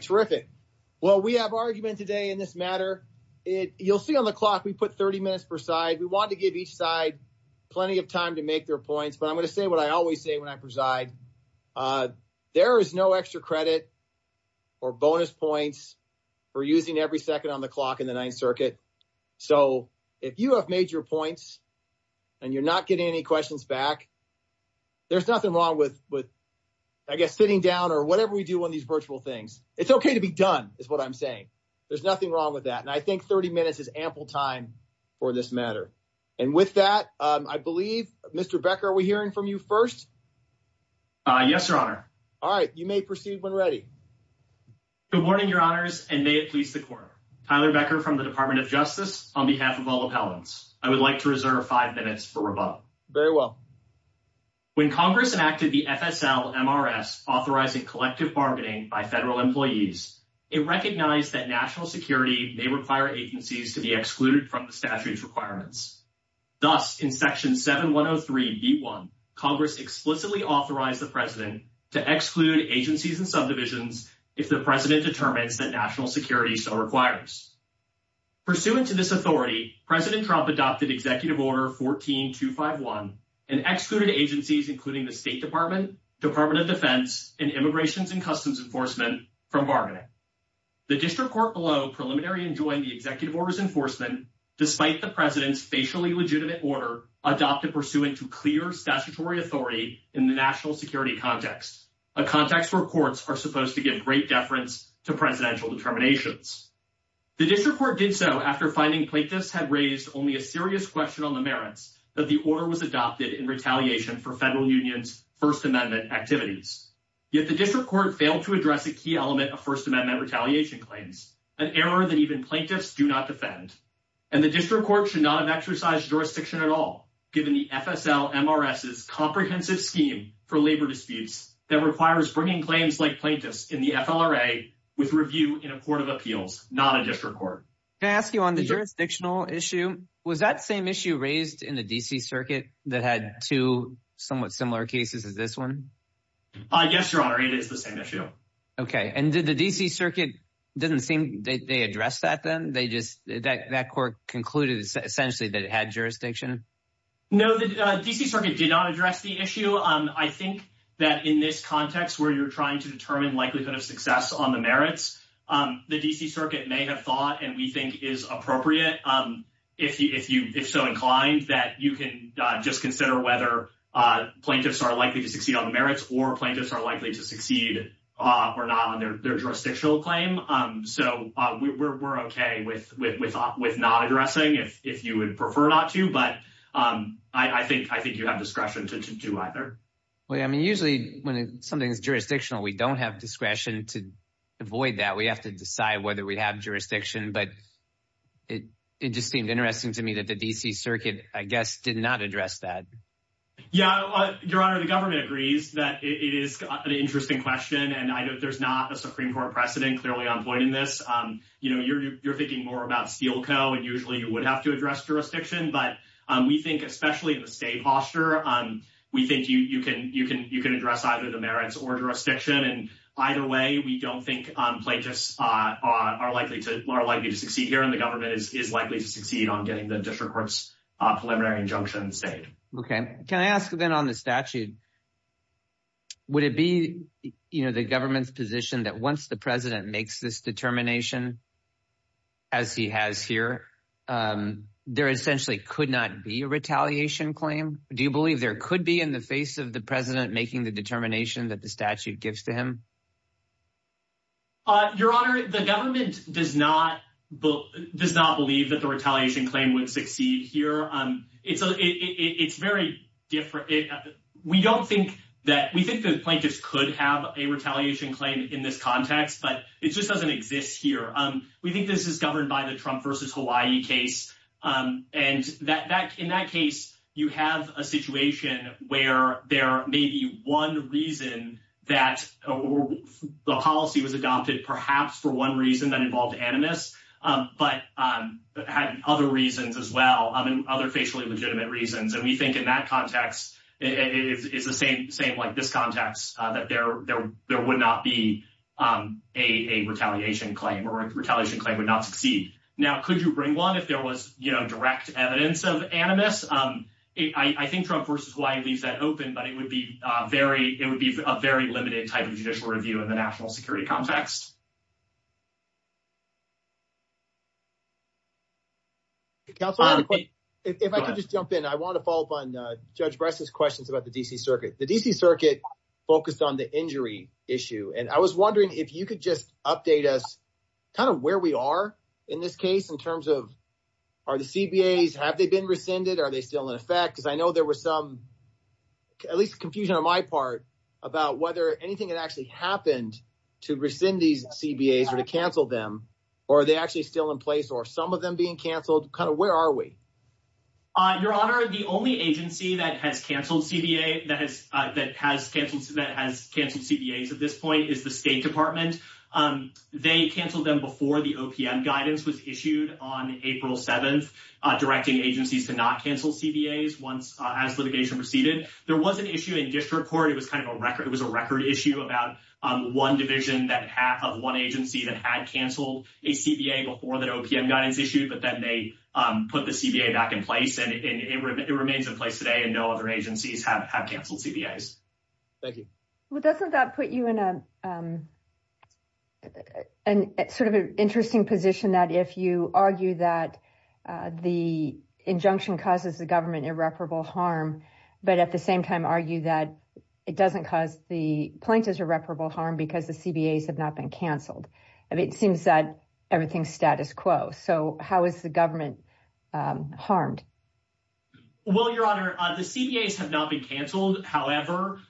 Terrific. Well, we have argument today in this matter. It you'll see on the clock, we put 30 minutes per side. We want to give each side plenty of time to make their points, but I'm going to say what I always say when I preside. Uh, there is no extra credit or bonus points for using every second on the clock in the ninth circuit. So if you have made your points and you're not getting any questions back, there's nothing wrong with, with, I guess, sitting down or whatever we do on these virtual things. It's okay to be done is what I'm saying. There's nothing wrong with that. And I think 30 minutes is ample time for this matter. And with that, um, I believe Mr. Becker, are we hearing from you first? Uh, yes, Your Honor. All right. You may proceed when ready. Good morning, Your Honors, and may it please the court. Tyler Becker from the Department of Justice on behalf of all appellants. I would like to reserve five minutes for rebuttal. Very well. When Congress enacted the FSL-MRS authorizing collective bargaining by federal employees, it recognized that national security may require agencies to be excluded from the statute's requirements. Thus, in section 7103b1, Congress explicitly authorized the president to exclude agencies and subdivisions if the president determines that national security so requires. Pursuant to this authority, President Trump adopted executive order 14251 and excluded agencies, including the State Department, Department of Defense, and Immigrations and Customs Enforcement from bargaining. The district court below preliminary and joined the executive orders enforcement despite the president's facially legitimate order adopted pursuant to clear statutory authority in the national security context, a context where courts are supposed to give great deference to presidential determinations. The district court did so after finding plaintiffs had raised only a serious question on the merits that the order was adopted in retaliation for federal union's First Amendment activities. Yet the district court failed to address a key element of First Amendment retaliation claims, an error that even plaintiffs do not defend. And the district court should not have exercised jurisdiction at all, given the FSL-MRS's comprehensive scheme for labor disputes that requires bringing claims like plaintiffs in the FLRA with review in a court of appeals, not a district court. Can I ask you on the jurisdictional issue, was that same issue raised in the DC circuit that had two somewhat similar cases as this one? Yes, Your Honor, it is the same issue. Okay. And did the DC circuit, it doesn't seem they addressed that then, they just, that court concluded essentially that it had jurisdiction? No, the DC circuit did not address the issue. I think that in this context where you're trying to determine likelihood of success on the merits, the DC circuit may have thought, and we think is appropriate, if you, if you, if so inclined, that you can just consider whether plaintiffs are likely to succeed on the merits or plaintiffs are likely to succeed or not on their jurisdictional claim. So we're okay with not addressing if you would prefer not to, but I think you have discretion to do either. Well, yeah, I mean, usually when something's jurisdictional, we don't have discretion to avoid that. We have to decide whether we'd have jurisdiction, but it just seemed interesting to me that the DC circuit, I guess, did not address that. Yeah, your honor, the government agrees that it is an interesting question. And I know there's not a Supreme court precedent clearly on point in this. You know, you're, you're thinking more about Steelco and usually you would have to address jurisdiction, but we think, especially in the state posture, we think you can, you can, you can address either the merits or jurisdiction. And either way, we don't think plaintiffs are likely to, are likely to succeed here and the government is, is likely to succeed on getting the district court's preliminary injunction stayed. Okay. Can I ask then on the statute, would it be, you know, the government's position that once the president makes this determination, as he has here, there essentially could not be a retaliation claim. Do you believe there could be in the face of the president making the determination that the statute gives to him? Your honor, the government does not, does not believe that the retaliation claim would succeed here. It's a, it's very different. We don't think that we think the plaintiffs could have a retaliation claim in this context, but it just doesn't exist here. We think this is governed by the Trump versus Hawaii case. And that, that in that case, you have a situation where there may be one reason that the policy was adopted, perhaps for one reason that involved animus, but had other reasons as well, other facially legitimate reasons. And we think in that context, it's the same, same like this context that there, there, there would not be a retaliation claim or retaliation claim would not succeed. Now, could you bring one if there was, you know, direct evidence of animus? I think Trump versus Hawaii leaves that open, but it would be a very, it would be a very limited type of judicial review in the national security context. If I could just jump in, I want to follow up on Judge Bress's questions about the DC circuit, the DC circuit focused on the injury issue. And I was wondering if you could just update us kind of where we are in this case, in terms of, are the CBAs, have they been rescinded or are they still in effect because I know there was some, at least confusion on my part about whether anything had actually happened to rescind these CBAs or to cancel them. Or are they actually still in place or some of them being canceled, kind of, where are we? Your honor, the only agency that has canceled CBA that has, that has canceled, that has canceled CBAs at this point is the state department. They canceled them before the OPM guidance was issued on April 7th, directing agencies to not cancel CBAs once, as litigation proceeded. There was an issue in district court. It was kind of a record. It was a record issue about one division that half of one agency that had canceled a CBA before that OPM guidance issued, but then they put the CBA back in place and it remains in place today and no other agencies have canceled CBAs. Thank you. Well, doesn't that put you in a sort of an interesting position that if you argue that the injunction causes the government irreparable harm, but at the same time argue that it doesn't cause the plaintiff's irreparable harm because the CBAs have not been canceled. I mean, it seems that everything's status quo. So how is the government harmed? Well, your honor, the CBAs have not been canceled, however,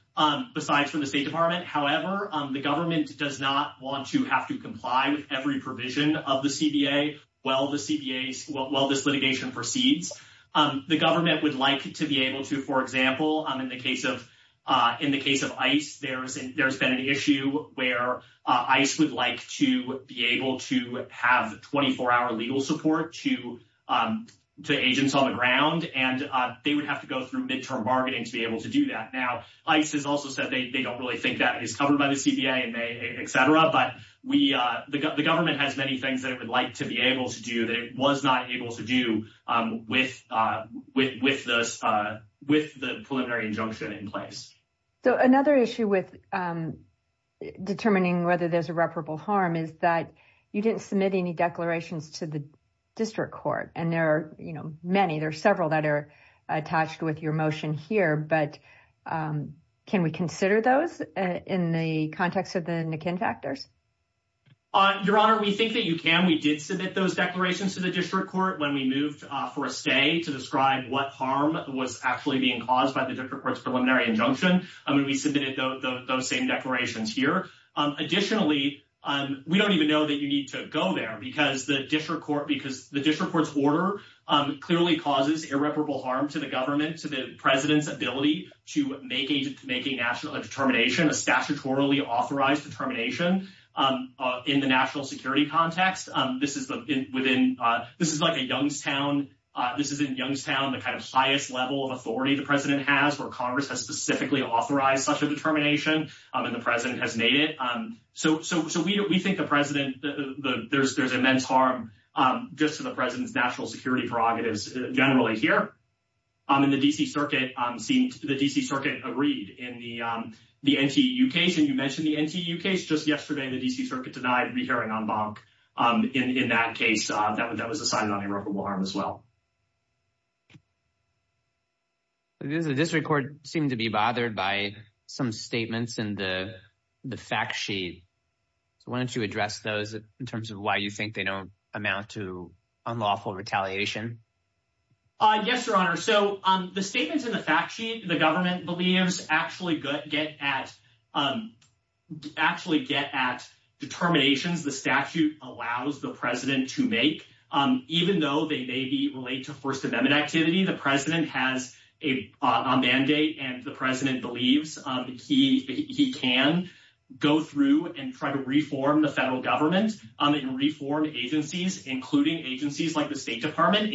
besides from the state department. However, the government does not want to have to comply with every provision of the CBA while the CBAs, while this litigation proceeds, the government would like to be able to, for example, in the case of ICE, there's been an issue where ICE would like to be able to have 24-hour legal support to agents on the ground, and they would have to go through midterm bargaining to be able to do that. Now, ICE has also said they don't really think that is covered by the CBA, etc., but the government has many things that it would like to be able to do that it was not able to do with the preliminary injunction in place. So another issue with determining whether there's irreparable harm is that you didn't submit any declarations to the district court, and there are many. There are several that are attached with your motion here, but can we consider those in the context of the Nikin factors? Your honor, we think that you can. We did submit those declarations to the district court when we moved for a stay to describe what harm was actually being caused by the district court's preliminary injunction, and we submitted those same declarations here. Additionally, we don't even know that you need to go there because the district court's order clearly causes irreparable harm to the government, to the president's ability to make a national determination, a statutorily authorized determination in the national security context. This is like a Youngstown. This is in Youngstown, the kind of highest level of authority the president has, where Congress has specifically authorized such a determination, and the president has made it. So we think the president, there's immense harm just to the president's national security prerogatives generally here, and the D.C. Circuit seemed, the D.C. Circuit agreed in the NTU case, and you mentioned the NTU case. Just yesterday, the D.C. Circuit denied rehearing en banc in that case that was assigned on irreparable harm as well. The district court seemed to be bothered by some statements in the fact sheet. So why don't you address those in terms of why you think they don't amount to unlawful retaliation? Yes, Your Honor. So the statements in the fact sheet, the government believes actually get at determinations the statute allows the president to make, even though they may relate to First Amendment activity. The president has a mandate, and the president believes he can go through and try to reform the federal government and reform agencies, including agencies like the State Department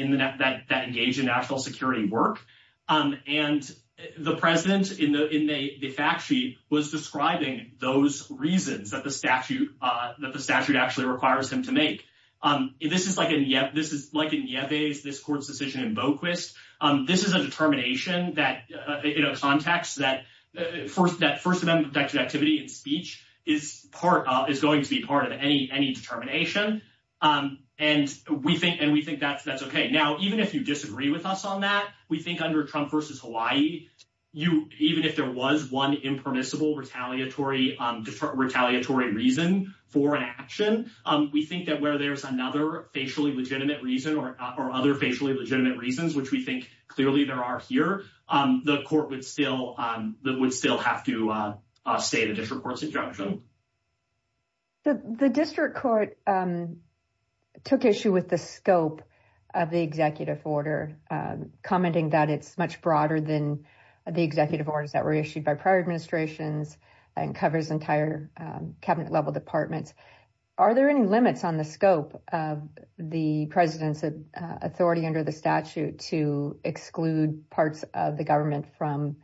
that engage in national security work. And the president in the fact sheet was describing those reasons that the statute actually requires him to make. This is like in Yeves, this court's decision in Boquist. This is a determination that, you know, context that First Amendment activity and speech is part of, is going to be part of any determination. And we think that's okay. Now, even if you disagree with us on that, we think under Trump v. Hawaii, even if there was one impermissible retaliatory reason for an action, we think that where there's another facially legitimate reason or other facially legitimate reasons, which we think clearly there are here, the court would still have to state a district court's injunction. The district court took issue with the scope of the executive order, commenting that it's much broader than the executive orders that were issued by prior administrations and covers entire cabinet-level departments. Are there any limits on the scope of the president's authority under the statute to exclude parts of the government from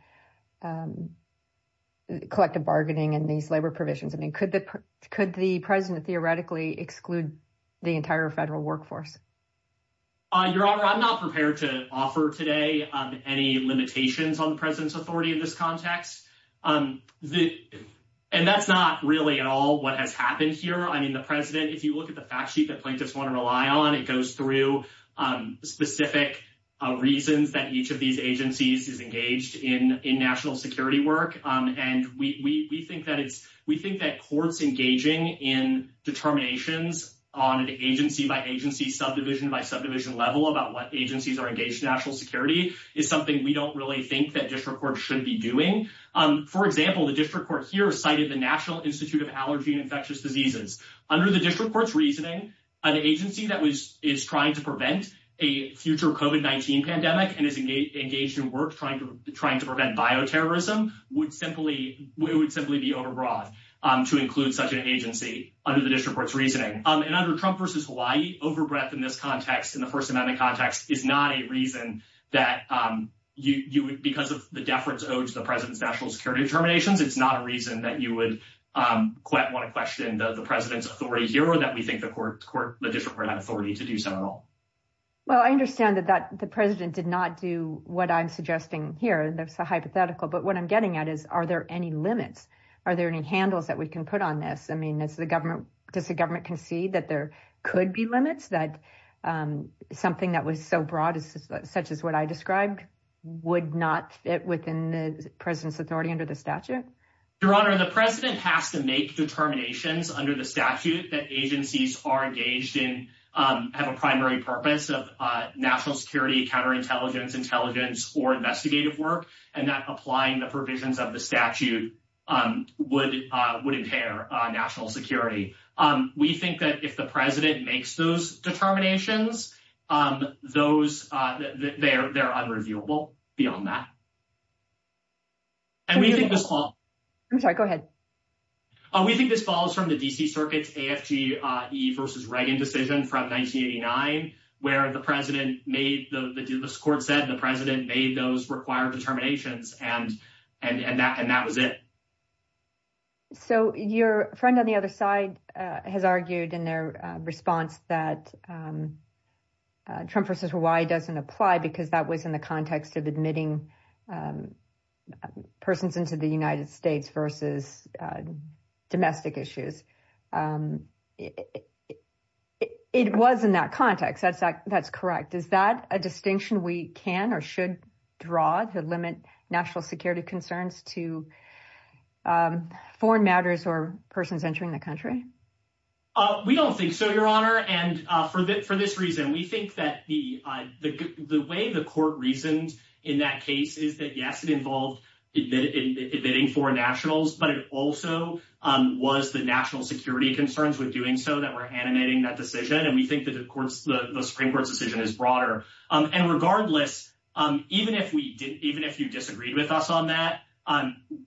collective bargaining and these labor provisions? I mean, could the president theoretically exclude the entire federal workforce? Your Honor, I'm not prepared to offer today any limitations on the president's authority in this context. And that's not really at all what has happened here. I mean, the president, if you look at the fact sheet that plaintiffs want to rely on, it goes through specific reasons that each of these agencies is engaged in national security work. And we think that courts engaging in determinations on an agency-by-agency, subdivision-by-subdivision level about what agencies are engaged in national security is something we don't really think that district court should be doing. For example, the district court here cited the National Institute of Allergy and Infectious Diseases. Under the district court's reasoning, an agency that is trying to prevent a future COVID-19 pandemic and is engaged in work trying to prevent bioterrorism would simply be overbroad to include such an agency under the district court's reasoning. And under Trump v. Hawaii, overbreadth in this context, in the First Amendment context, is not a reason that you would, because of the deference owed to the president's national security determinations, it's not a reason that you would want to question the president's authority here or that we think the district court had authority to do so at all. Well, I understand that the president did not do what I'm suggesting here. That's a hypothetical. But what I'm getting at is, are there any limits? Are there any handles that we can put on this? I mean, does the government concede that there could be limits? That something that was so broad, such as what I described, would not fit within the president's authority under the statute? Your Honor, the president has to make determinations under the statute that agencies are engaged in, have a primary purpose of national security, counterintelligence, intelligence, or investigative work, and that applying the provisions of the statute would impair national security. We think that if the president makes those determinations, they're unreviewable beyond that. I'm sorry, go ahead. We think this follows from the D.C. Circuit's AFG-E v. Reagan decision from 1989, where the court said the president made those required determinations, and that was it. So, your friend on the other side has argued in their response that Trump v. Hawaii doesn't apply because that was in the context of admitting persons into the United States versus domestic issues. It was in that context, that's correct. Is that a distinction we can or should draw to limit national security concerns to foreign matters or persons entering the country? We don't think so, your Honor. And for this reason, we think that the way the court reasoned in that case is that, yes, it involved admitting foreign nationals, but it also was the national security concerns with doing so that were animating that decision. And we think that the Supreme Court's decision is broader. And regardless, even if you disagreed with us on that,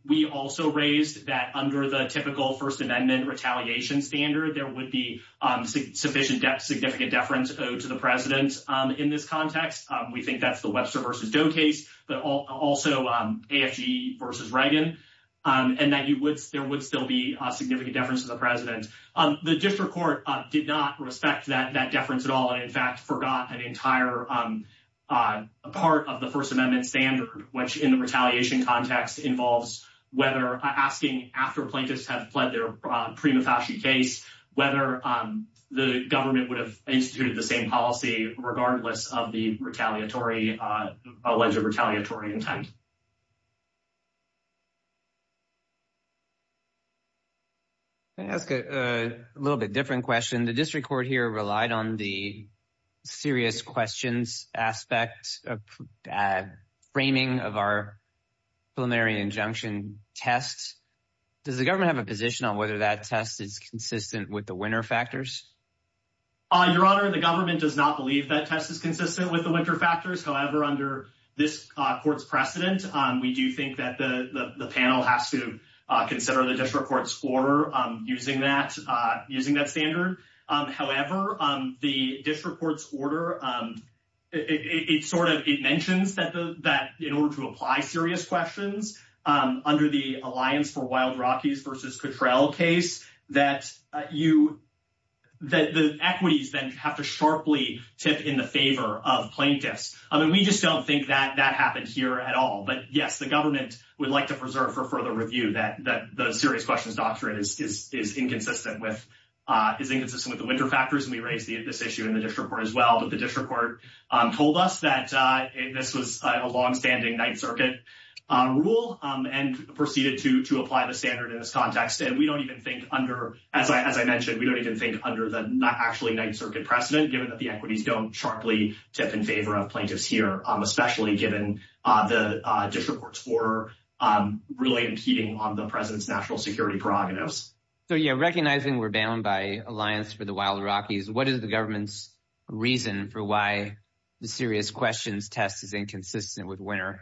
we also raised that under the typical First Amendment retaliation standard, there would be sufficient significant deference owed to the president in this context. We think that's the Webster v. Doe case, but also AFG v. Reagan, and that there would still be significant deference to the president. The district court did not respect that deference at all, and in fact forgot an entire part of the First Amendment standard, which in the retaliation context involves whether asking after plaintiffs have pled their prima facie case, whether the government would have instituted the same policy regardless of the retaliatory, alleged retaliatory intent. Can I ask a little bit different question? The district court here relied on the serious questions aspect of framing of our preliminary injunction test. Does the government have a position on whether that test is consistent with the winner factors? Your Honor, the government does not believe that test is consistent with the winner factors. However, under this court's precedent, we do think that the panel has to consider the district court's order using that standard. However, the district court's order, it sort of mentions that in order to apply serious questions under the Alliance for Wild Rockies v. Cottrell case, that the equities then have to sharply tip in the favor of plaintiffs. We just don't think that happened here at all, but yes, the government would like to preserve for further review that the serious questions doctrine is inconsistent with the winner factors, and we raised this issue in the district court as well, but the district court told us that this was a longstanding Ninth Circuit rule and proceeded to apply the standard in this context, and we don't even think under, as I mentioned, we don't even think under the actually Ninth Circuit precedent, given that the equities don't sharply tip in favor of plaintiffs here, especially given the district court's order really impeding on the president's national security prerogatives. So yeah, recognizing we're bound by Alliance for the Wild Rockies, what is the government's reason for why the serious questions test is inconsistent with winner?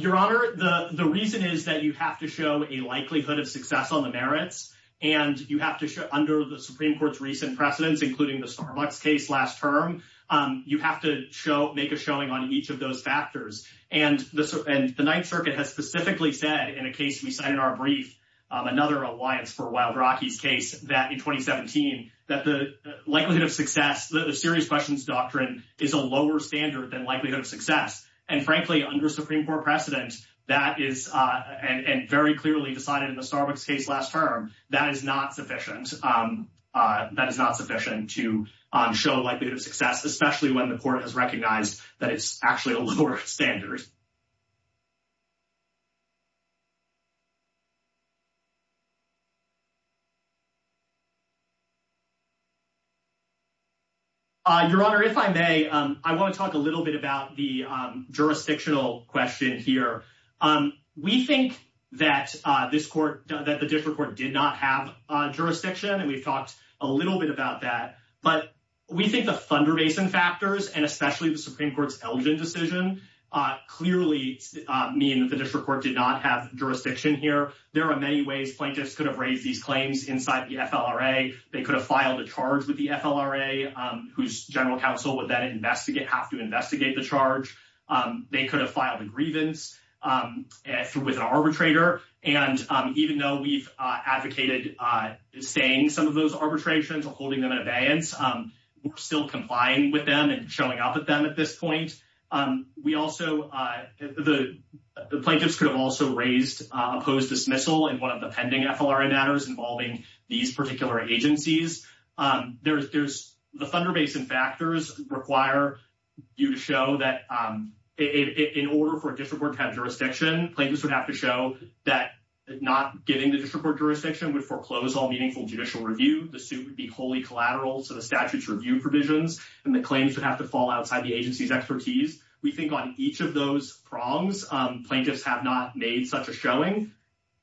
Your Honor, the reason is that you have to show a likelihood of success. If you look at the district court's recent precedents, including the Starbucks case last term, you have to make a showing on each of those factors, and the Ninth Circuit has specifically said in a case we cited in our brief, another Alliance for the Wild Rockies case in 2017, that the likelihood of success, the serious questions doctrine is a lower standard than likelihood of success, and frankly, under Supreme Court precedent, that is, and very clearly decided in the Ninth Circuit, that is not sufficient to show likelihood of success, especially when the court has recognized that it's actually a lower standard. Your Honor, if I may, I want to talk a little bit about the jurisdictional question here. We think that this court, that the district court did not have jurisdiction, and we've talked a little bit about that, but we think the Thunder Basin factors, and especially the Supreme Court's Elgin decision, clearly mean that the district court did not have jurisdiction here. There are many ways plaintiffs could have raised these claims inside the FLRA. They could have filed a charge with the FLRA, whose general counsel would then investigate, have to investigate the charge. They could have filed a grievance with an arbitrator, and even though we've advocated staying some of those arbitrations or holding them in abeyance, we're still complying with them and showing up with them at this point. We also, the plaintiffs could have also raised a post-dismissal in one of the pending FLRA matters involving these particular agencies. There's, the Thunder Basin factors require you to show that in order for a district court to have jurisdiction, plaintiffs would have to show that not giving the district court jurisdiction would foreclose all meaningful judicial review. The suit would be wholly collateral to the statute's review provisions, and the claims would have to fall outside the agency's expertise. We think on each of those prongs, plaintiffs have not made such a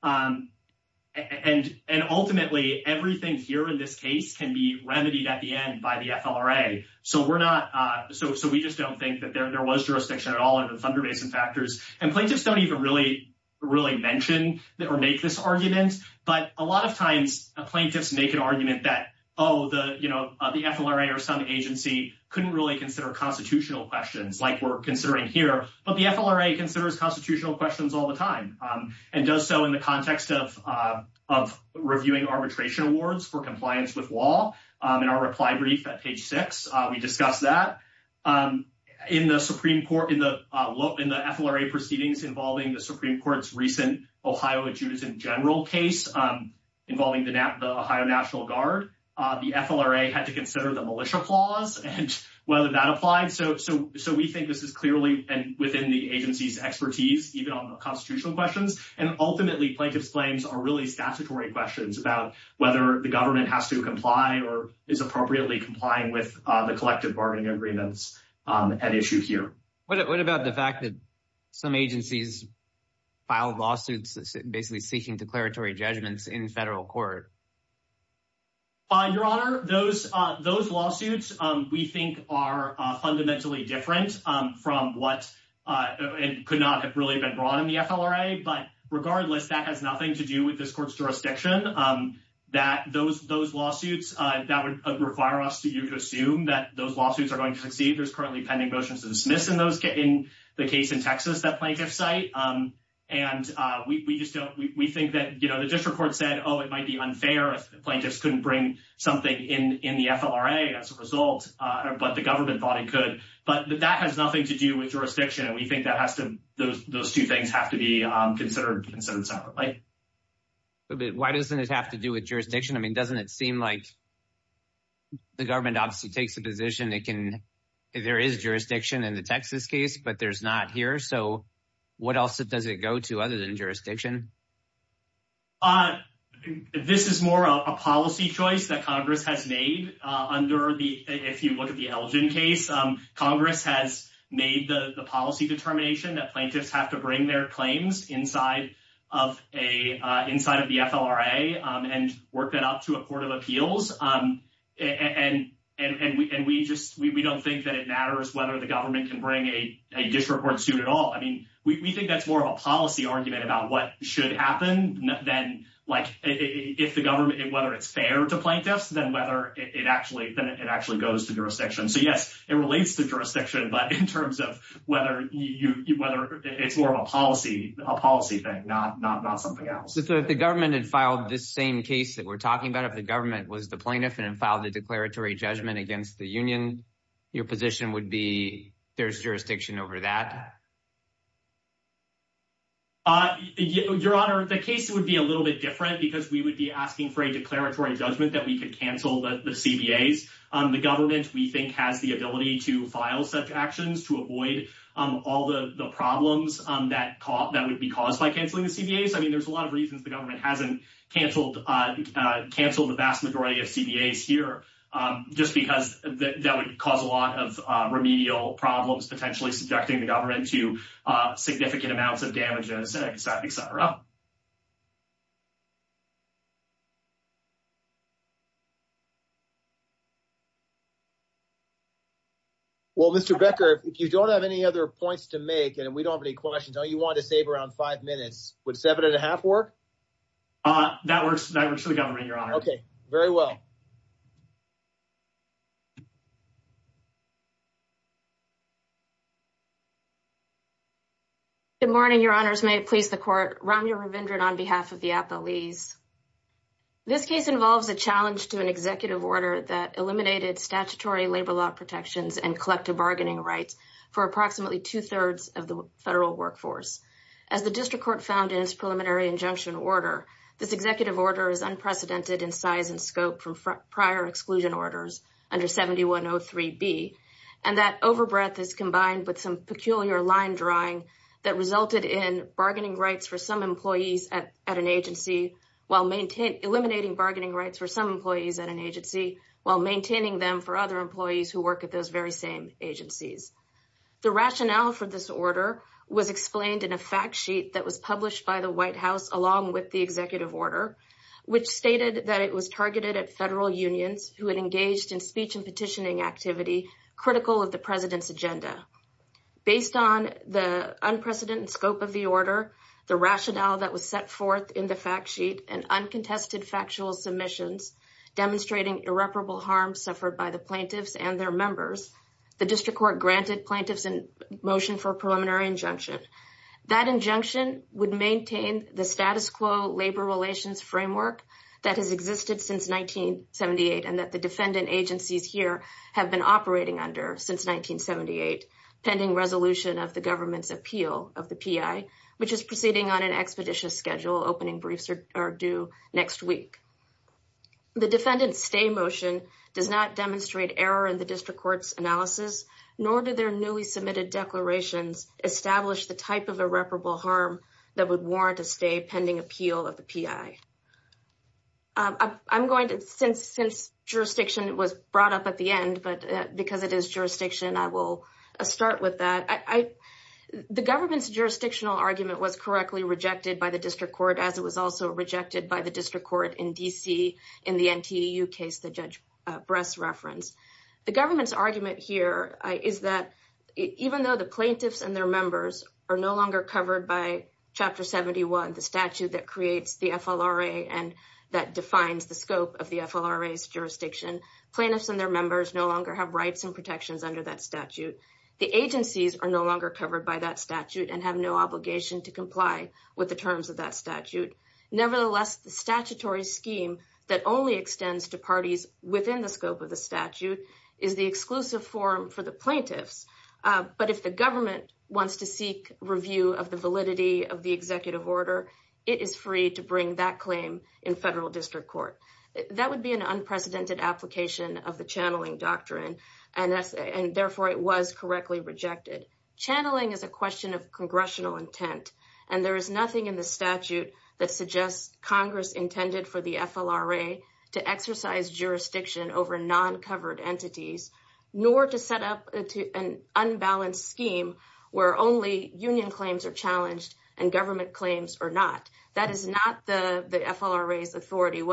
And ultimately, everything here in this case can be remedied at the end by the FLRA. So we're not, so we just don't think that there was jurisdiction at all in the Thunder Basin factors. And plaintiffs don't even really mention or make this argument, but a lot of times, plaintiffs make an argument that, oh, the FLRA or some agency couldn't really consider constitutional questions like we're considering here, but the FLRA considers constitutional questions all the time, and does so in the context of reviewing arbitration awards for compliance with law. In our reply brief at page 6, we discuss that. In the Supreme Court, in the FLRA proceedings involving the Supreme Court's recent Ohio adjudicant general case involving the Ohio National Guard, the FLRA had to consider the militia clause and whether that applied. So we think this is clearly within the agency's expertise, even on the constitutional questions. And ultimately, plaintiffs' claims are really statutory questions about whether the government has to comply or is appropriately complying with the collective bargaining agreements at issue here. What about the fact that some agencies filed lawsuits basically seeking declaratory judgments in federal court? Your Honor, those lawsuits we think are fundamentally different from what could not have really been brought in the FLRA. But regardless, that has nothing to do with this court's jurisdiction. Those lawsuits, that would require us to assume that those lawsuits are going to succeed. There's currently pending motions to dismiss in the case in Texas that plaintiffs cite. We think that the district court said, oh, it might be unfair if plaintiffs couldn't bring something in the FLRA as a result, but the government thought it could. But that has nothing to do with jurisdiction. We think those two things have to be considered separately. Why doesn't it have to do with jurisdiction? Doesn't it seem like the government obviously takes a position that there is jurisdiction in the Texas case, but there's not here. So what else does it go to other than jurisdiction? This is more of a policy choice that Congress has made. If you look at the Elgin case, Congress has made the policy determination that plaintiffs have to bring their claims inside of the FLRA and work that out to a court of appeals. And we don't think that it matters whether the government can bring a district court suit at all. We think that's more of a policy argument about what should happen than if the government, whether it's fair to plaintiffs, then whether it actually goes to jurisdiction. So, yes, it relates to jurisdiction, but in terms of whether it's more of a policy thing, not something that the government has to So if the government had filed this same case that we're talking about, if the government was the plaintiff and filed a declaratory judgment against the union, your position would be there's jurisdiction over that? Your Honor, the case would be a little bit different because we would be asking for a declaratory judgment that we could cancel the CBAs. The government, we think, has the ability to file such actions to avoid all the problems that would be caused by canceling the CBAs. I mean, there's a lot of reasons the government hasn't cancelled the vast majority of CBAs here, just because that would cause a lot of remedial problems, potentially subjecting the government to significant amounts of damage, etc. Well, Mr. Becker, if you don't have any other points to make, and we don't have any questions, I know you wanted to save around five minutes. Would seven and a half work? That works for the government, Your Honor. Good morning, Your Honors. May it please the Court. This case involves a challenge to an executive order that eliminated statutory labor law protections and collective bargaining rights for approximately two-thirds of the federal workforce. As the District Court found in its preliminary injunction order, this executive order is unprecedented in size and scope from prior exclusion orders under 7103B, and that overbreadth is combined with some peculiar line drawing that resulted in bargaining rights for some employees at an agency, while maintaining bargaining rights for some employees at an agency, while maintaining them for other employees who work at those very same agencies. The rationale for this order was explained in a fact sheet that was published by the White House along with the executive order, which stated that it was targeted at federal unions who had engaged in speech and petitioning activity critical of the President's agenda. Based on the unprecedented scope of the order, the rationale that was set forth in the fact sheet and uncontested factual submissions demonstrating irreparable harm suffered by the plaintiffs and their members, the District Court granted plaintiffs a motion for a preliminary injunction. That injunction would maintain the status quo labor relations framework that has existed since 1978 and that the defendant agencies here have been operating under since 1978, pending resolution of the government's appeal of the PI, which is proceeding on an expeditious schedule, opening briefs are due next week. The defendant's stay motion does not demonstrate error in the District Court's analysis, nor do their newly submitted declarations establish the type of irreparable harm that would warrant a stay pending appeal of the PI. I'm going to, since jurisdiction was brought up at the end, but because it is jurisdiction, I will start with that. The government's jurisdictional argument was correctly rejected by the District Court as it was also rejected by the District Court in D.C. in the NTEU case that Judge Bress referenced. The government's argument here is that even though the plaintiffs and their members are no longer covered by Chapter 71, the statute that creates the FLRA and that defines the scope of the FLRA's jurisdiction, plaintiffs and their members no longer have rights and protections under that statute. The agencies are no longer covered by that statute and have no obligation to comply with the terms of that statute. Nevertheless, the statutory scheme that only extends to parties within the scope of the statute is the exclusive forum for the plaintiffs, but if the government wants to seek review of the validity of the executive order, it is free to bring that claim in federal District Court. That would be an unprecedented application of the channeling doctrine and therefore it was correctly rejected. Channeling is a question of congressional intent and there is nothing in the statute that suggests Congress intended for the FLRA to exercise jurisdiction over non-covered entities, nor to set up an unbalanced scheme where only union claims are challenged and government claims are not. That is not the FLRA's authority.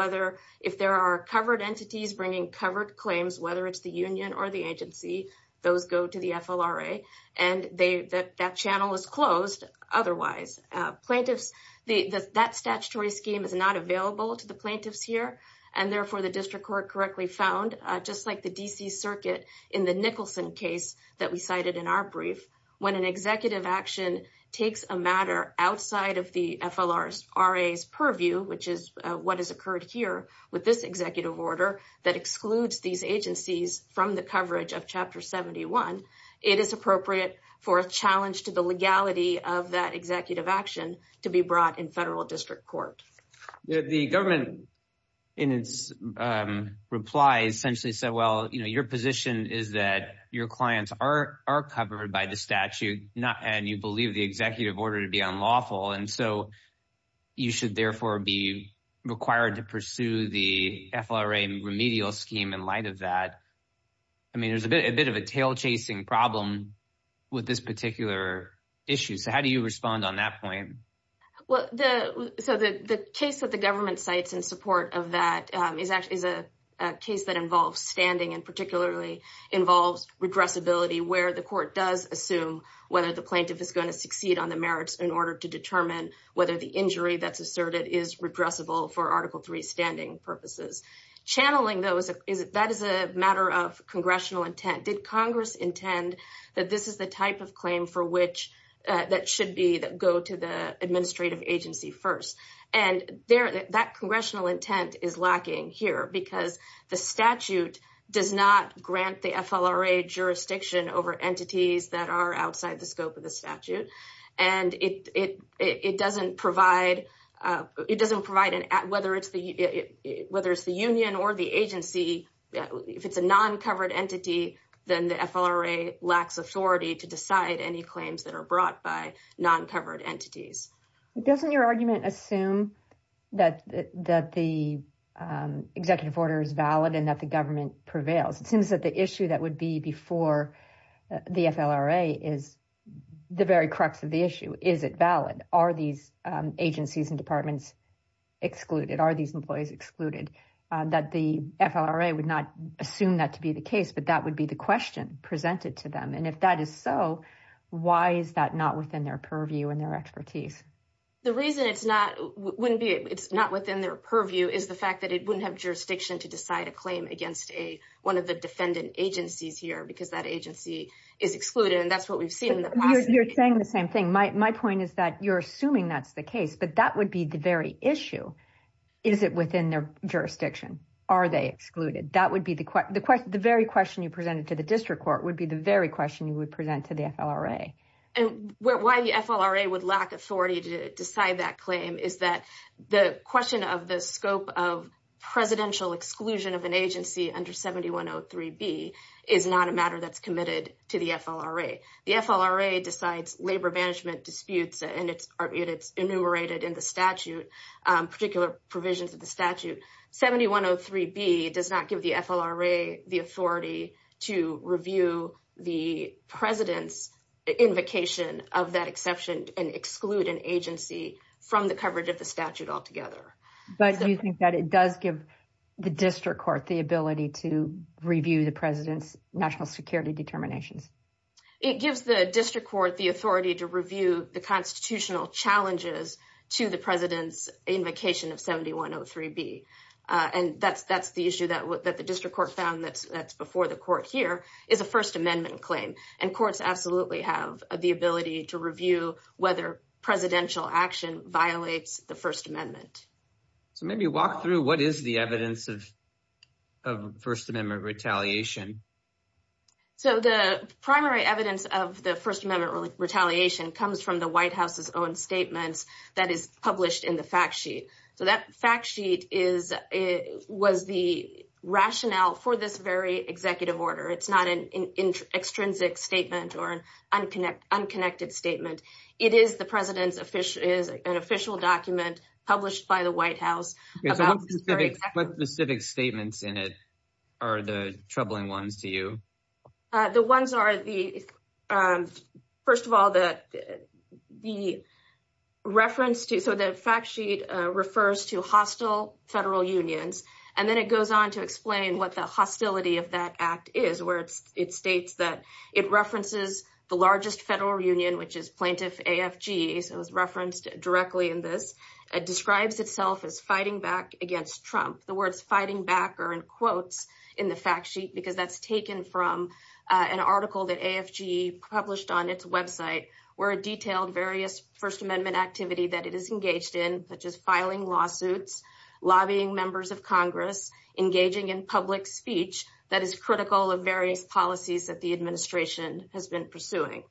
If there are covered entities bringing covered claims whether it's the union or the agency, those go to the FLRA and that channel is closed otherwise. That statutory scheme is not available to the plaintiffs here and therefore the District Court correctly found, just like the D.C. Circuit in the Nicholson case that we cited in our brief, when an executive action takes a matter outside of the FLRA's purview, which is what has occurred here with this executive order that excludes these agencies from the coverage of Chapter 71, it is appropriate for a challenge to the legality of that executive action to be brought in federal district court. The government, in its reply, essentially said, well, your position is that your clients are covered by the statute and you believe the executive order to be unlawful and so you should therefore be required to pursue the FLRA remedial scheme in light of that. There's a bit of a tail chasing problem with this particular issue, so how do you respond on that point? The case that the government cites in support of that is a case that involves standing and particularly involves regressibility where the court does assume whether the plaintiff is going to succeed on the merits in order to determine whether the injury that's asserted is regressible for Article 3 standing purposes. Channeling those, that is a matter of congressional intent. Did Congress intend that this is the type of claim for which that should go to the administrative agency first? That congressional intent is lacking here because the statute does not grant the FLRA jurisdiction over entities that are outside the scope of the statute and it doesn't provide whether it's the union or the agency if it's a non-covered entity then the FLRA lacks authority to decide any claims that are brought by non-covered entities. Doesn't your argument assume that the executive order is valid and that the government prevails? It seems that the issue that would be before the FLRA is the very crux of the issue. Is it valid? Are these agencies and departments excluded? Are these employees excluded? That the FLRA would not assume that to be the case but that would be the question presented to them and if that is so, why is that not within their purview and their expertise? The reason it's not within their purview is the fact that it wouldn't have jurisdiction to decide a claim against one of the defendant agencies here because that agency is excluded and that's what we've seen in the past. You're saying the same thing. My point is that you're assuming that's the case but that would be the very issue. Is it within their jurisdiction? Are they excluded? The very question you presented to the district court would be the very question you would present to the FLRA. Why the FLRA would lack authority to decide that claim is that the question of the scope of presidential exclusion of an agency under 7103B is not a matter that's committed to the FLRA. The FLRA decides labor management disputes and it's enumerated in the statute, particular provisions of the statute. 7103B does not give the FLRA the authority to review the president's invocation of that exception and exclude an agency from the coverage of the statute altogether. But you think that it does give the district court the ability to review the president's national security determinations. It gives the district court the authority to review the constitutional challenges to the president's invocation of 7103B. And that's the issue that the district court found that's before the court here is a First Amendment claim. And courts absolutely have the ability to review whether presidential action violates the First Amendment. So maybe walk through what is the evidence of First Amendment retaliation. So the primary evidence of the First Amendment retaliation comes from the White House's own statements that is published in the fact sheet. So that fact sheet was the rationale for this very executive order. It's not an extrinsic statement or an unconnected statement. It is the president's official document published by the White House. What specific statements in it are the troubling ones to you? The ones are the, first of all, the reference to, so the fact sheet refers to hostile federal unions. And then it goes on to explain what the hostility of that act is where it states that it references the largest federal union which is plaintiff AFG so it's referenced directly in this. It describes itself as fighting back against Trump. The words fighting back are in quotes in the fact sheet because that's taken from an article that AFG published on its website where it detailed various First Amendment activity that it is engaged in such as filing lawsuits, lobbying members of Congress, engaging in public speech that is critical of various policies that the administration has been pursuing.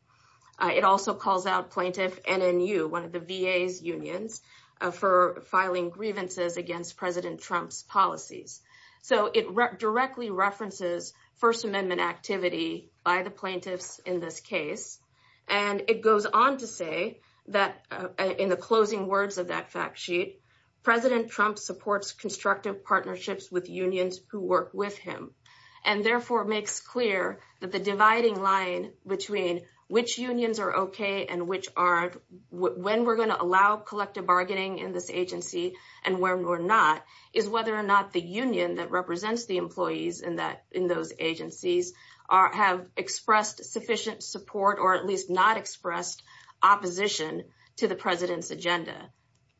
It also calls out plaintiff NNU, one of the VA's unions for filing grievances against President Trump's policies. So it directly references First Amendment activity by the plaintiffs in this case. And it goes on to say that in the closing words of that fact sheet President Trump supports constructive partnerships with unions who work with him. And therefore makes clear that the dividing line between which unions are okay and which aren't when we're going to allow collective bargaining in this agency and when we're not is whether or not the union that represents the employees in those agencies have expressed sufficient support or at least not expressed opposition to the President's agenda.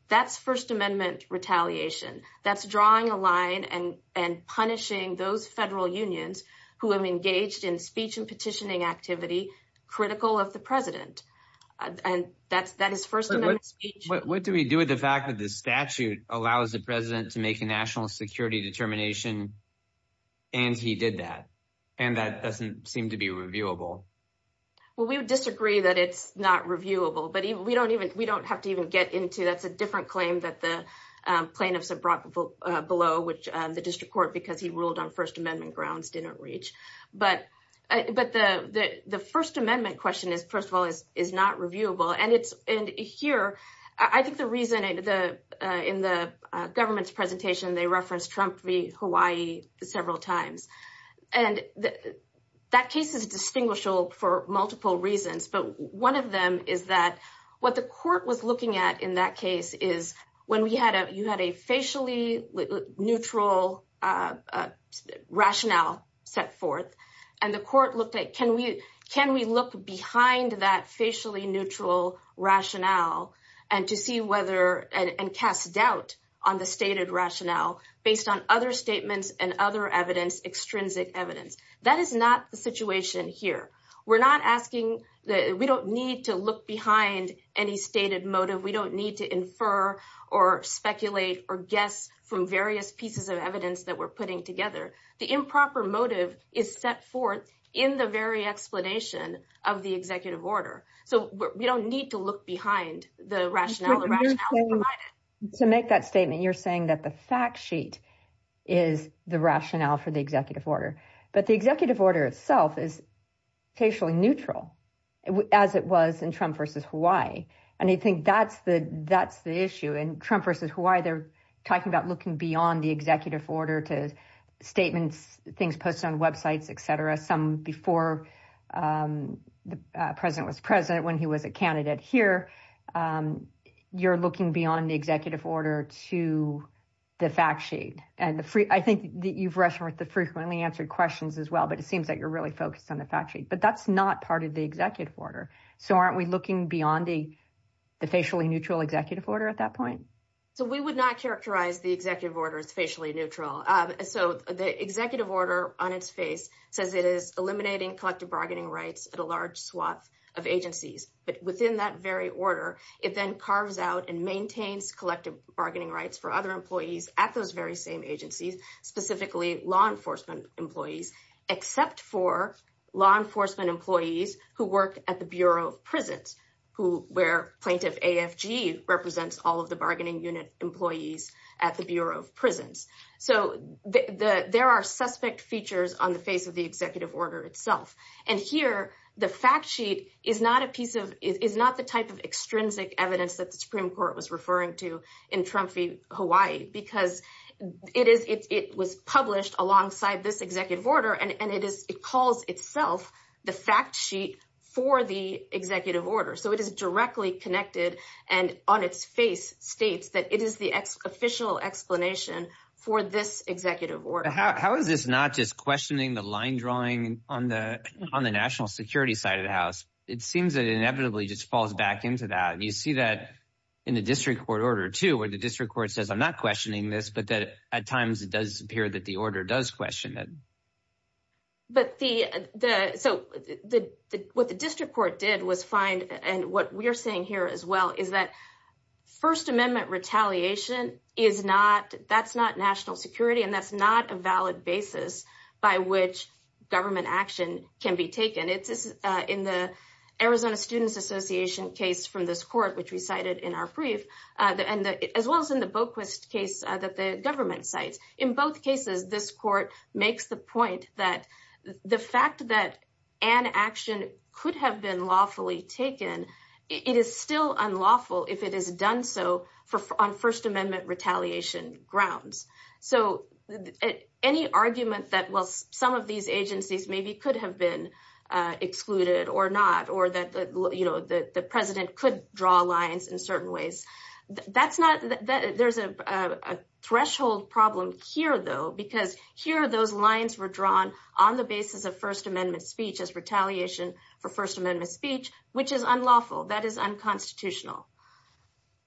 That's First Amendment retaliation. That's drawing a line and punishing those federal unions who have engaged in speech and petitioning activity critical of the President. And that is First Amendment speech. What do we do with the fact that the statute allows the President to make a national security determination and he did that? And that doesn't seem to be reviewable. Well we would disagree that it's not reviewable. But we don't have to even get into that's a different claim that the plaintiffs have brought below which the District Court because he ruled on First Amendment grounds didn't reach. But the First Amendment question is first of all is not reviewable and here I think the reason in the government's presentation they referenced Trump v. Hawaii several times and that case is distinguishable for multiple reasons. But one of them is that what the court was looking at in that case is when you had a facially neutral rationale set forth and the court looked at can we look behind that facially neutral rationale and to see whether and cast doubt on the stated rationale based on other statements and other evidence, extrinsic evidence. That is not the situation here. We're not asking we don't need to look behind any stated motive. We don't need to infer or speculate or guess from various pieces of evidence that we're putting together. The improper motive is set forth in the very explanation of the executive order. So we don't need to look behind the rationale. To make that statement you're saying that the fact sheet is the rationale for the executive order. But the executive order itself is facially neutral as it was in Trump v. Hawaii and I think that's the issue in Trump v. Hawaii they're talking about looking beyond the executive order to statements things posted on websites etc. Some before the president was president when he was a candidate here you're looking beyond the executive order to the fact sheet. I think you've referenced the frequently answered questions as well but it seems that you're really focused on the fact sheet. But that's not part of the executive order. So aren't we looking beyond the facially neutral executive order at that point? So we would not characterize the executive order as facially neutral. So the executive order on its face says it is eliminating collective bargaining rights at a large swath of agencies. But within that very order it then carves out and maintains collective bargaining rights for other employees at those very same agencies specifically law enforcement employees except for law enforcement employees who work at the Bureau of Prisons where plaintiff AFG represents all of the bargaining unit employees at the Bureau of Prisons. So there are suspect features on the face of the executive order itself. And here the fact sheet is not the type of extrinsic evidence that the Supreme Court was referring to in Trump v. Hawaii because it was published alongside this executive order and it calls itself the fact sheet for the executive order. So it is directly connected and on its face states that it is the official explanation for this executive order. How is this not just questioning the line drawing on the national security side of the House? It seems that it inevitably just falls back into that. You see that in the district court order too where the district court says I'm not questioning this but that at times it does appear that the order does question it. But the what the district court did was find and what we are seeing here as well is that First Amendment retaliation is not, that's not national security and that's not a valid basis by which government action can be taken. In the Arizona Students Association case from this court which we cited in our brief as well as in the Boquist case that the government cites. In both cases this court makes the point that the fact that an action could have been lawfully taken, it is still unlawful if it is done so on First Amendment retaliation grounds. So any argument that some of these agencies maybe could have been excluded or not or that the president could draw lines in certain ways that's not, there's a threshold problem here though because here those lines were drawn on the basis of First Amendment speech as retaliation for First Amendment speech which is unlawful, that is unconstitutional.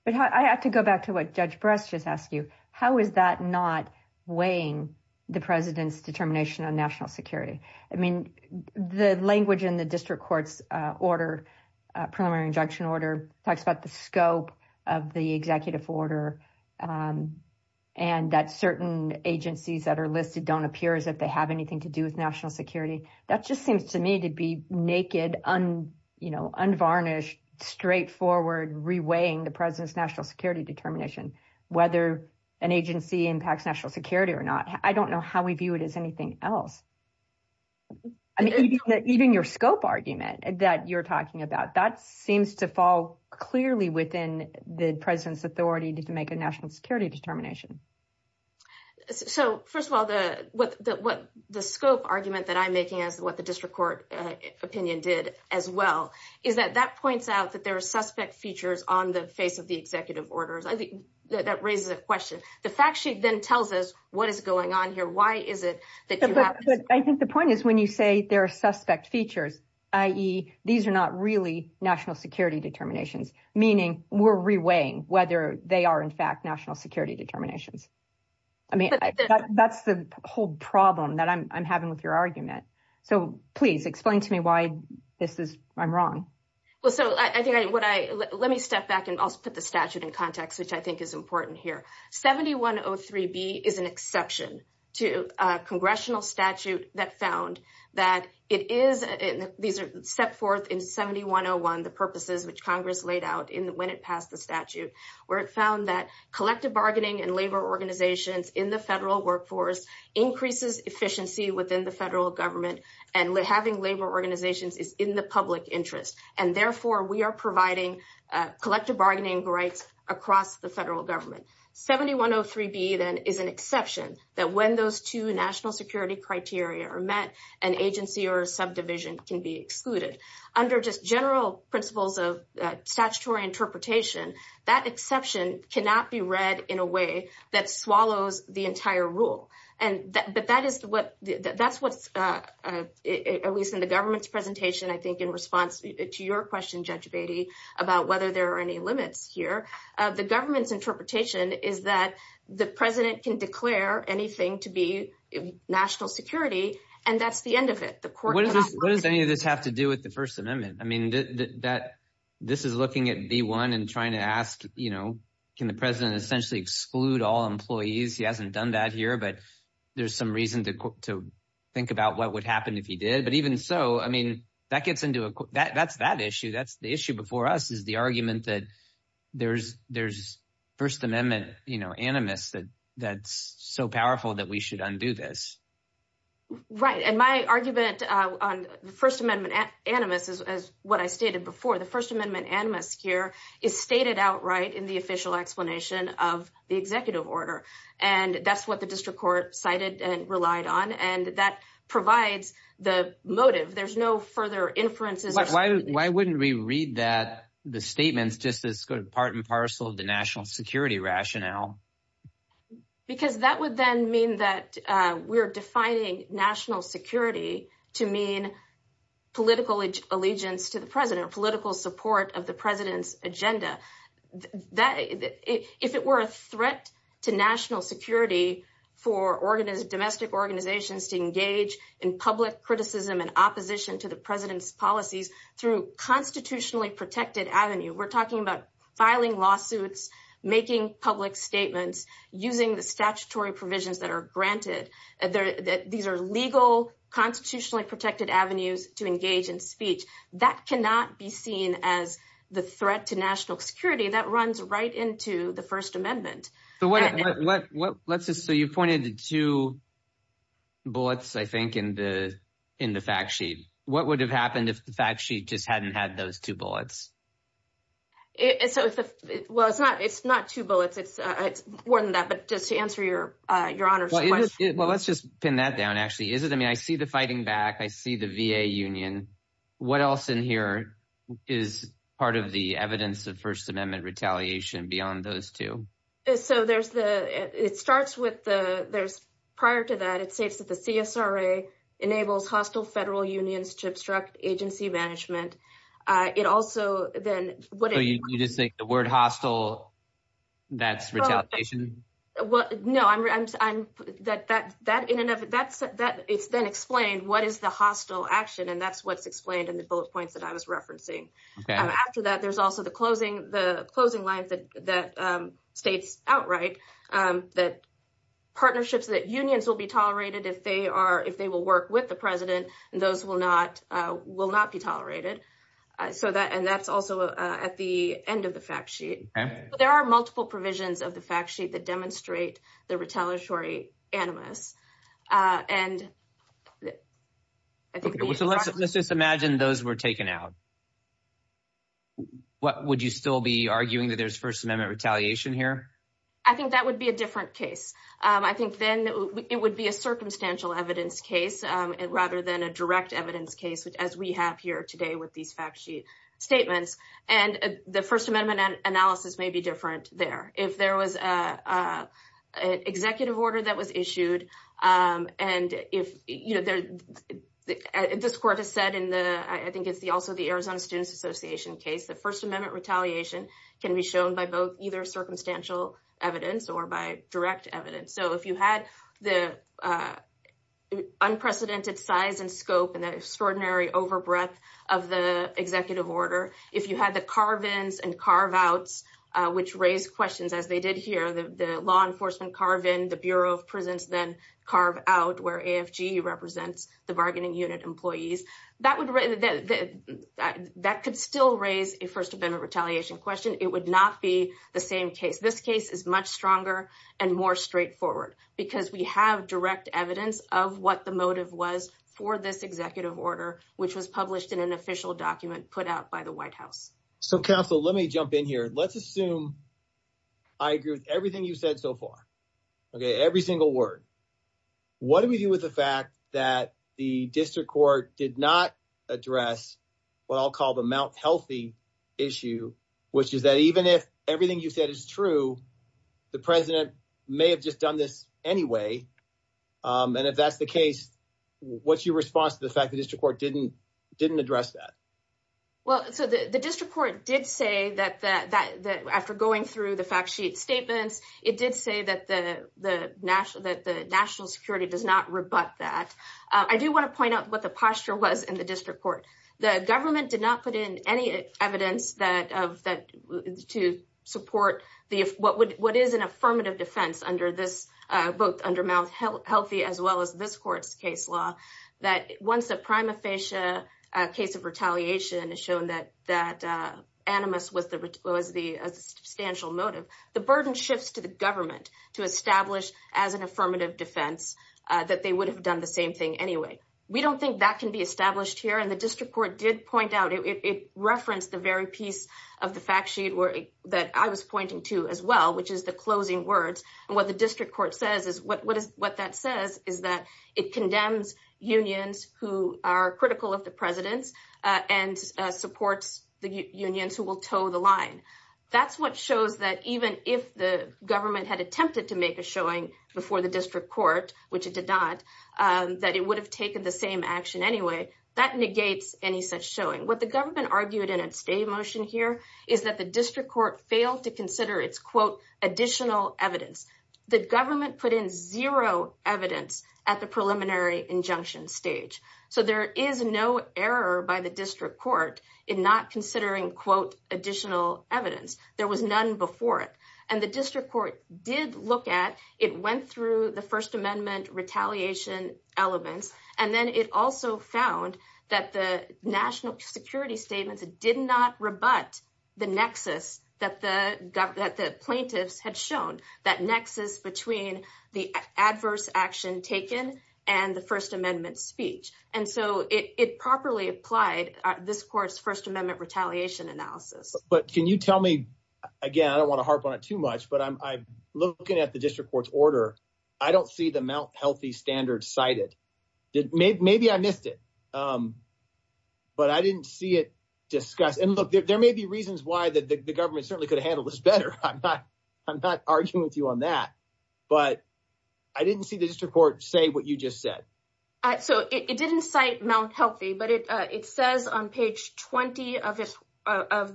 But I have to go back to what Judge Bress just asked you. How is that not weighing the president's determination on national security? I mean the language in the district court's order, preliminary injunction order talks about the scope of the executive order and that certain agencies that are listed don't appear as if they have anything to do with national security. That just seems to me to be naked, unvarnished, straightforward reweighing the president's national security determination whether an agency impacts national security or not. I don't know how we view it as anything else. Even your scope argument that you're talking about, that seems to fall clearly within the president's authority to make a national security determination. So first of all, the scope argument that I'm making as what the district court opinion did as well is that that points out that there are suspect features on the face of the executive orders. I think that raises a question. The fact sheet then tells us what is going on here. Why is it that you have... I think the point is when you say there are suspect features, i.e. these are not really national security determinations, meaning we're reweighing whether they are in fact national security determinations. That's the whole problem that I'm having with your argument. So please explain to me why I'm wrong. Let me step back and put the statute in context, which I think is important here. 7103B is an exception to a congressional statute that found that it is... These are set forth in 7101, the purposes which Congress laid out when it passed the statute, where it found that collective bargaining and labor organizations in the federal workforce increases efficiency within the federal government and having labor organizations is in the public interest. Therefore, we are providing collective bargaining rights across the federal government. 7103B then is an exception that when those two national security criteria are met, an agency or subdivision can be excluded. Under just general principles of statutory interpretation, that exception cannot be read in a way that swallows the entire rule. That's what, at least in the government's presentation, I think in response to your question, Judge Beatty, about whether there are any limits here. The government's interpretation is that the president can declare anything to be national security and that's the end of it. What does any of this have to do with the First Amendment? This is looking at B-1 and trying to ask can the president essentially exclude all employees? He hasn't done that here, but there's some reason to think about what would happen if he did. But even so, that's that issue. The issue before us is the argument that there's First Amendment animus that's so powerful that we should undo this. Right, and my argument on the First Amendment animus is what I stated before. The First Amendment animus here is stated outright in the official explanation of the executive order and that's what the district court cited and relied on and that provides the motive. There's no further inferences. Why wouldn't we read the statements just as part and parcel of the national security rationale? Because that would then mean that we're defining national security to mean political allegiance to the president, political support of the president's agenda. If it were a threat to national security for domestic organizations to engage in public criticism and opposition to the president's policies through constitutionally protected avenue, we're talking about filing lawsuits, making public statements, using the statutory provisions that are granted. These are legal, constitutionally protected avenues to engage in speech. That cannot be seen as the threat to national security. That runs right into the First Amendment. So you pointed to bullets, I think, in the fact sheet. What would have happened if the fact sheet just hadn't had those two bullets? Well, it's not two bullets. It's more than that, but just to answer your Honor's question. Well, let's just pin that down, actually. I mean, I see the fighting back. I see the VA union. What else in here is part of the evidence of First Amendment retaliation beyond those two? Prior to that, it states that the CSRA enables hostile federal unions to obstruct agency management. So you just think the word hostile, that's retaliation? No, it's then explained what is the hostile action, and that's what's explained in the bullet points that I was referencing. After that, there's also the closing lines that states outright that partnerships that unions will be tolerated if they will work with the president and those will not be tolerated. That's also at the end of the fact sheet. There are multiple provisions of the fact sheet that demonstrate the retaliatory animus. Let's just imagine those were taken out. Would you still be arguing that there's First Amendment retaliation here? I think that would be a different case. I think then it would be a circumstantial evidence case rather than a direct evidence case as we have here today with these fact sheet statements. The First Amendment analysis may be different there. If there was an executive order that was issued, and this court has said in the Arizona Students Association case that First Amendment retaliation can be shown by either circumstantial evidence or by direct evidence. If you had the unprecedented size and scope and the extraordinary over breadth of the executive order, if you had the carve-ins and carve-outs which raised questions as they did here, the law enforcement carve-in, the Bureau of Prisons then carve-out where AFG represents the bargaining unit employees, that could still raise a First Amendment retaliation question. It would not be the same case. This case is much stronger and more straightforward because we have direct evidence of what the motive was for this executive order which was published in an official document put out by the White House. Let me jump in here. Let's assume I agree with everything you've said so far. Every single word. What do we do with the fact that the district court did not address what I'll call the Mount Healthy issue, which is that even if everything you said is true, the president may have just done this anyway. If that's the case, what's your response to the fact that the district court didn't address that? The district court did say that after going through the fact sheet statements, it did say that the national security does not rebut that. I do want to point out what the posture was in the district court. The government did not put in any evidence to support what is an affirmative defense under Mount Healthy as well as this court's case law. Once a prima facie case of retaliation is shown as a substantial motive, the burden shifts to the government to establish as an affirmative defense that they would have done the same thing anyway. We don't think that can be established here. The district court did point out, it referenced the very piece of the fact sheet that I was pointing to as well, which is the closing words. What the district court says is that it condemns unions who are critical of the president and supports the unions who will toe the line. That's what shows that even if the government had attempted to make a showing before the district court, which it did not, that it would have taken the same action anyway. That negates any such showing. What the government argued in its day motion here is that the district court failed to consider its additional evidence. The government put in zero evidence at the preliminary injunction stage. So there is no error by the district court in not considering additional evidence. There was none before it. And the district court did look at, it went through the First Amendment retaliation elements and then it also found that the national security statements did not rebut the nexus that the plaintiffs had shown. That nexus between the adverse action taken and the First Amendment speech. And so it properly applied this court's First Amendment retaliation analysis. But can you tell me, again I don't want to harp on it too much, but looking at the district court's order, I don't see the Mount Healthy standard cited. Maybe I missed it. But I didn't see it discussed. And look, there may be reasons why the government certainly could have handled this better. I'm not arguing with you on that. But I didn't see the district court say what you just said. So it didn't cite Mount Healthy, but it says on page 20 of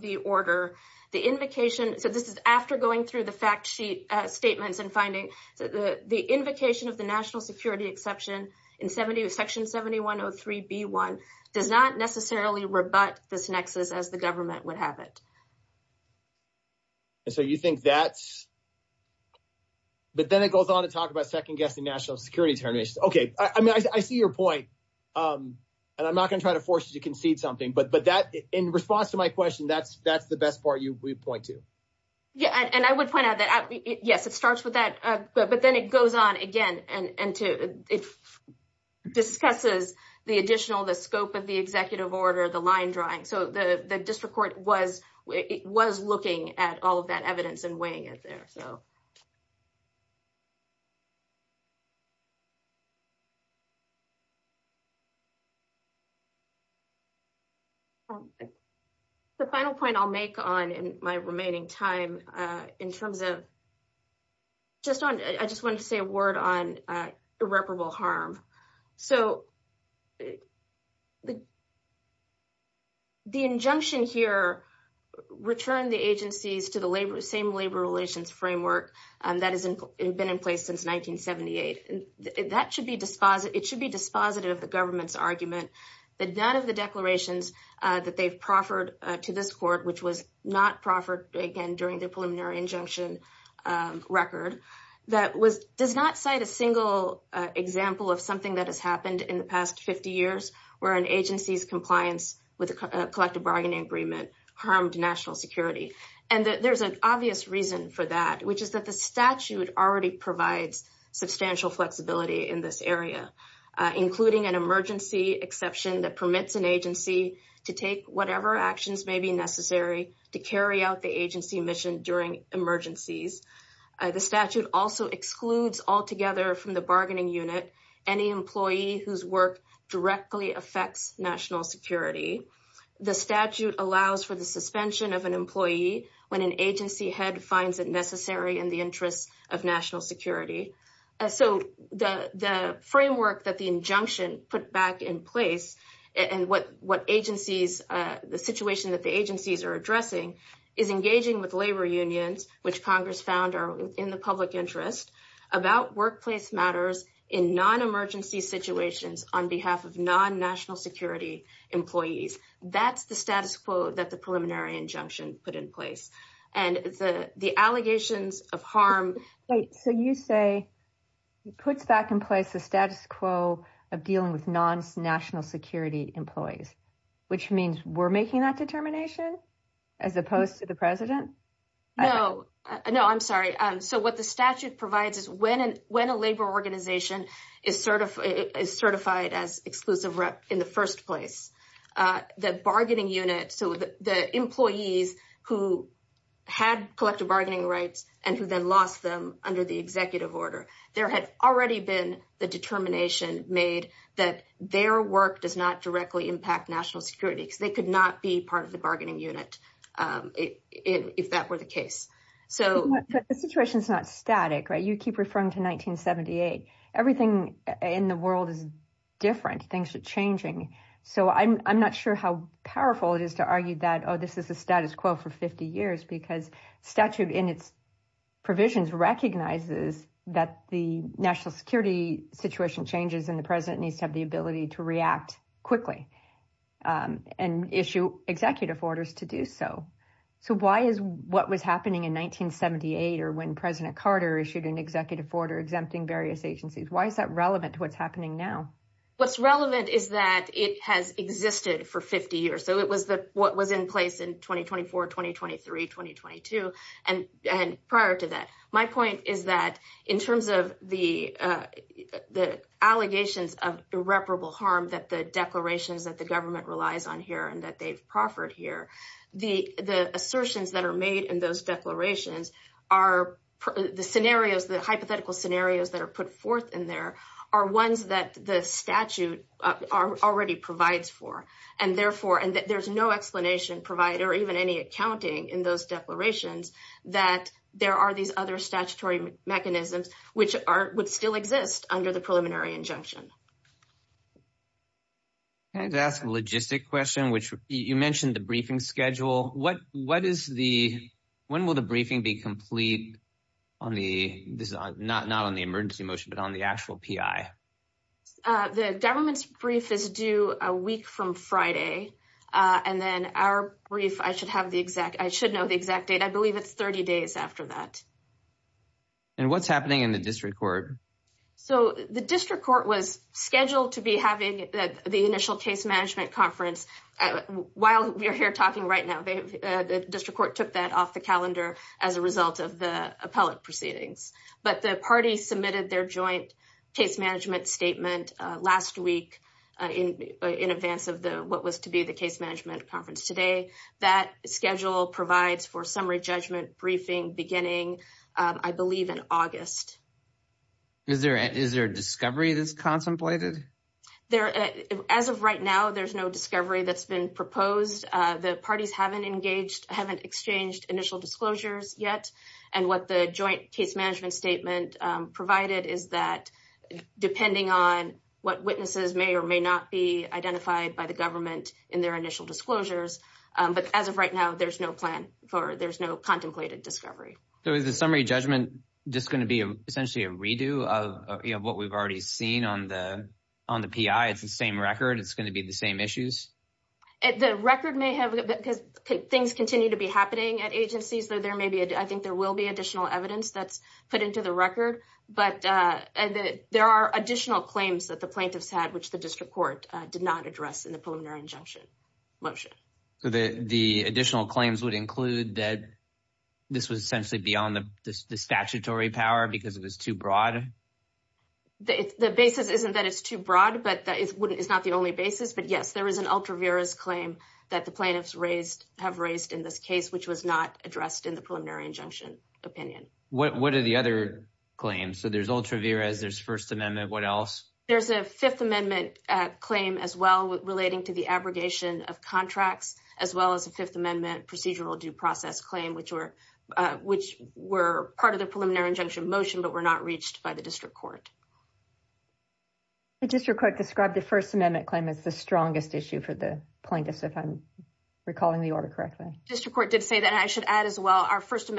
the order, the invocation, so this is after going through the fact sheet statements and finding the invocation of the national security exception in section 7103B1 does not necessarily rebut this nexus as the government would have it. So you think that's...but then it goes on to talk about second-guessing national security terms. Okay, I see your point. And I'm not going to try to force you to concede something, but in response to my question, that's the best part you would point to. Yeah, and I would point out that, yes, it starts with that, but then it goes on again and it discusses the additional, the scope of the executive order, the line drawing. So the district court was looking at all of that evidence and weighing it there. The final point I'll make on in my remaining time in terms of...I just wanted to say a word on irreparable harm. So the injunction here returned the agencies to the same labor relations framework that has been in place since 1978. It should be dispositive of the government's argument that none of the declarations that they've proffered to this court, which was not proffered, again, during the preliminary injunction record, does not cite a single example of something that has happened in the past 50 years where an agency's compliance with a collective bargaining agreement harmed national security. And there's an obvious reason for that, which is that the statute already provides substantial flexibility in this area, including an emergency exception that permits an agency to take whatever actions may be necessary to carry out the agency mission during emergencies. The statute also excludes altogether from the bargaining unit any employee whose work directly affects national security. The statute allows for the suspension of an employee when an agency head finds it necessary in the interests of national security. So the framework that the injunction put back in place and the situation that the agencies are addressing is engaging with labor unions which Congress found are in the public interest about workplace matters in non-emergency situations on behalf of non-national security employees. That's the status quo that the preliminary injunction put in place. And the allegations of harm... So you say it puts back in place the status quo of dealing with non-national security employees, which means we're making that determination as opposed to the president? No, I'm sorry. So what the statute provides is when a labor organization is certified as exclusive rep in the first place, the bargaining unit, so the employees who had collective bargaining rights and who then lost them under the executive order, there had already been the determination made that their work does not directly impact national security because they could not be part of the bargaining unit if that were the case. The situation's not static, right? You keep referring to 1978. Everything in the world is different thanks to changing. So I'm not sure how powerful it is to argue that this is the status quo for 50 years because statute in its provisions recognizes that the national security situation changes and the president needs to have the ability to react quickly and issue executive orders to do so. So why is what was happening in 1978 or when President Carter issued an executive order exempting various agencies, why is that relevant to what's happening now? What's relevant is that it has existed for 50 years. So it was what was in place in 2024, 2023, 2022, and prior to that. My point is that in terms of the allegations of irreparable harm that the declarations that the government relies on here and that they've proffered here, the assertions that are made in those declarations are the scenarios, the hypothetical scenarios that are put forth in there are ones that the statute already provides for, and therefore there's no explanation provided or even any accounting in those declarations that there are these other statutory mechanisms which would still exist under the preliminary injunction. Can I just ask a logistic question? You mentioned the briefing schedule. When will the briefing be complete on the, not on the emergency motion, but on the actual PI? The government's brief is due a week from Friday and then our brief, I should have the exact, I should know the exact date. I believe it's 30 days after that. And what's happening in the district court? So the district court was scheduled to be having the initial case management conference while we're here talking right now. The district court took that off the calendar as a result of the appellate proceedings, but the party submitted their joint case management statement last week in advance of what was to be the case management conference today. That schedule provides for summary judgment briefing beginning, I believe, in August. Is there a discovery that's contemplated? As of right now, there's no discovery that's been proposed. The parties haven't exchanged initial disclosures yet, and what the joint case management statement provided is that there will be a summary judgment, depending on what witnesses may or may not be identified by the government in their initial disclosures. But as of right now, there's no plan for, there's no contemplated discovery. So is the summary judgment just going to be essentially a redo of what we've already seen on the PI? It's the same record? It's going to be the same issues? The record may have, because things continue to be happening at agencies, so there may be, I think there will be but there are additional claims that the plaintiffs had, which the district court did not address in the preliminary injunction motion. So the additional claims would include that this was essentially beyond the statutory power because it was too broad? The basis isn't that it's too broad, but it's not the only basis, but yes, there is an ultra vires claim that the plaintiffs have raised in this case, which was not addressed in the preliminary injunction opinion. What are the other claims? So there's ultra vires, there's First Amendment, what else? There's a Fifth Amendment claim as well relating to the abrogation of contracts, as well as a Fifth Amendment procedural due process claim, which were part of the preliminary injunction motion, but were not reached by the district court. The district court described the First Amendment claim as the strongest issue for the plaintiffs if I'm recalling the order correctly. The district court did say that, and I should add as well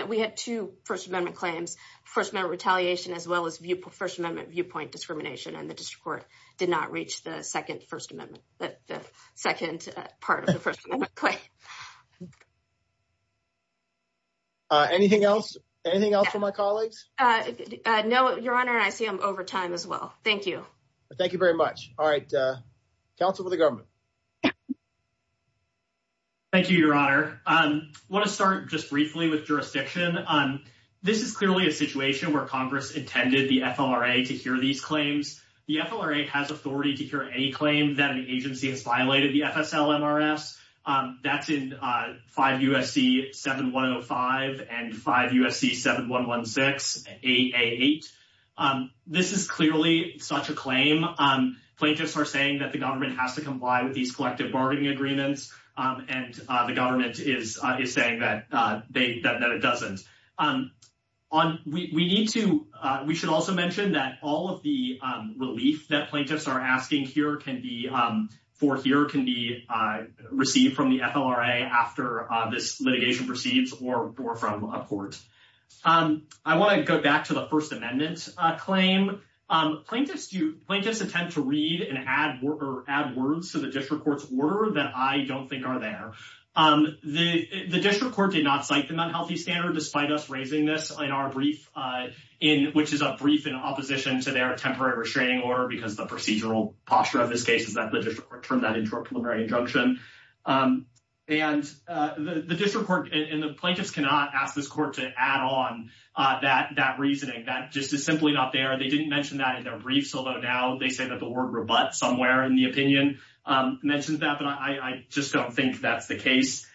we had two First Amendment claims, First Amendment retaliation as well as First Amendment viewpoint discrimination, and the district court did not reach the second First Amendment, the second part of the First Amendment claim. Anything else? Anything else for my colleagues? No, Your Honor, I see I'm over time as well. Thank you. Thank you very much. Alright, counsel for the government. Thank you, Your Honor. I want to start just briefly with jurisdiction. This is clearly a situation where Congress intended the FLRA to hear these claims. The FLRA has authority to hear any claim that an agency has violated the FSL-MRS. That's in 5 U.S.C. 7105 and 5 U.S.C. 7116 8A8. This is clearly such a claim. Plaintiffs are saying that the government has to comply with these collective bargaining agreements and the government is saying that it doesn't. We should also mention that all of the relief that plaintiffs are asking for here can be received from the FLRA after this litigation proceeds or from a court. I want to go back to the First Amendment claim. Plaintiffs intend to read and add words to the district court's order that I don't think are there. The district court did not cite the unhealthy standard despite us raising this in our brief which is a brief in opposition to their temporary restraining order because the procedural posture of this case is that the district court turned that into a preliminary injunction. Plaintiffs cannot ask this court to add on that reasoning. That just is simply not there. They didn't mention that in their brief, so now they say that the word rebut somewhere in the opinion mentions that, but I just don't think that's the case.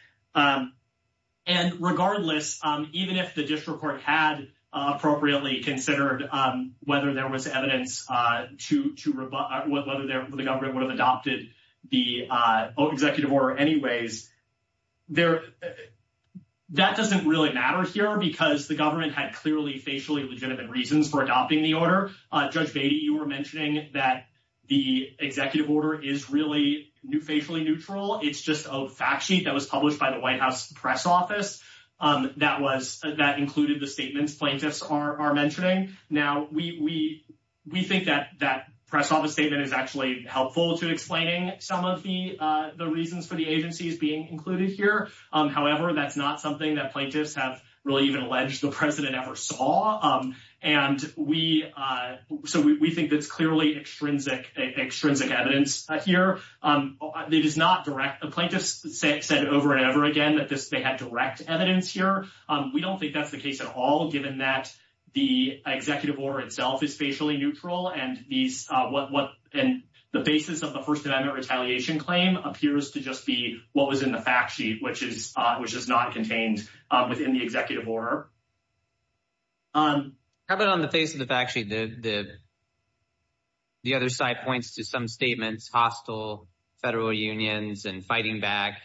Regardless, even if the district court had appropriately considered whether there was evidence to rebut, whether the government would have adopted the executive order anyways, that doesn't really matter here because the government had clearly facially legitimate reasons for adopting the order. Judge Beatty, you were mentioning that the executive order is really facially neutral. It's just a fact sheet that was published by the White House Press Office that included the statements plaintiffs are mentioning. We think that that Press Office statement is actually helpful to explaining some of the reasons for the agencies being included here. However, that's not something that plaintiffs have really even alleged the President ever saw. We think that's clearly extrinsic evidence here. Plaintiffs said over and over again that they had direct evidence here. We don't think that's the case at all, given that the executive order itself is facially neutral and the basis of the First Amendment retaliation claim appears to just be what was in the fact sheet, which is not contained within the executive order. How about on the face of the fact sheet, the other side points to some statements, hostile federal unions and fighting back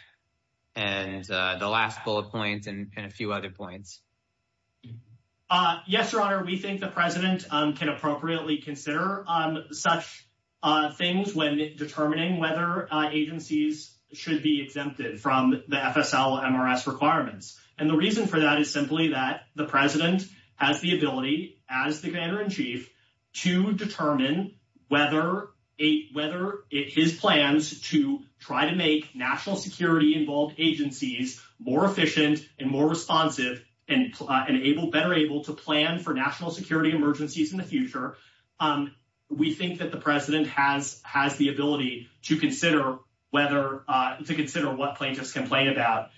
and the last bullet point and a few other points. Yes, Your Honor, we think the President can appropriately consider such things when determining whether agencies should be exempted from the FSL-MRS requirements. And the reason for that is simply that the President has the ability as the Commander-in-Chief to determine whether his plans to try to make national security-involved agencies more efficient and more responsive and better able to plan for national security emergencies in the future. We think that the President has the ability to consider what plaintiffs complain about,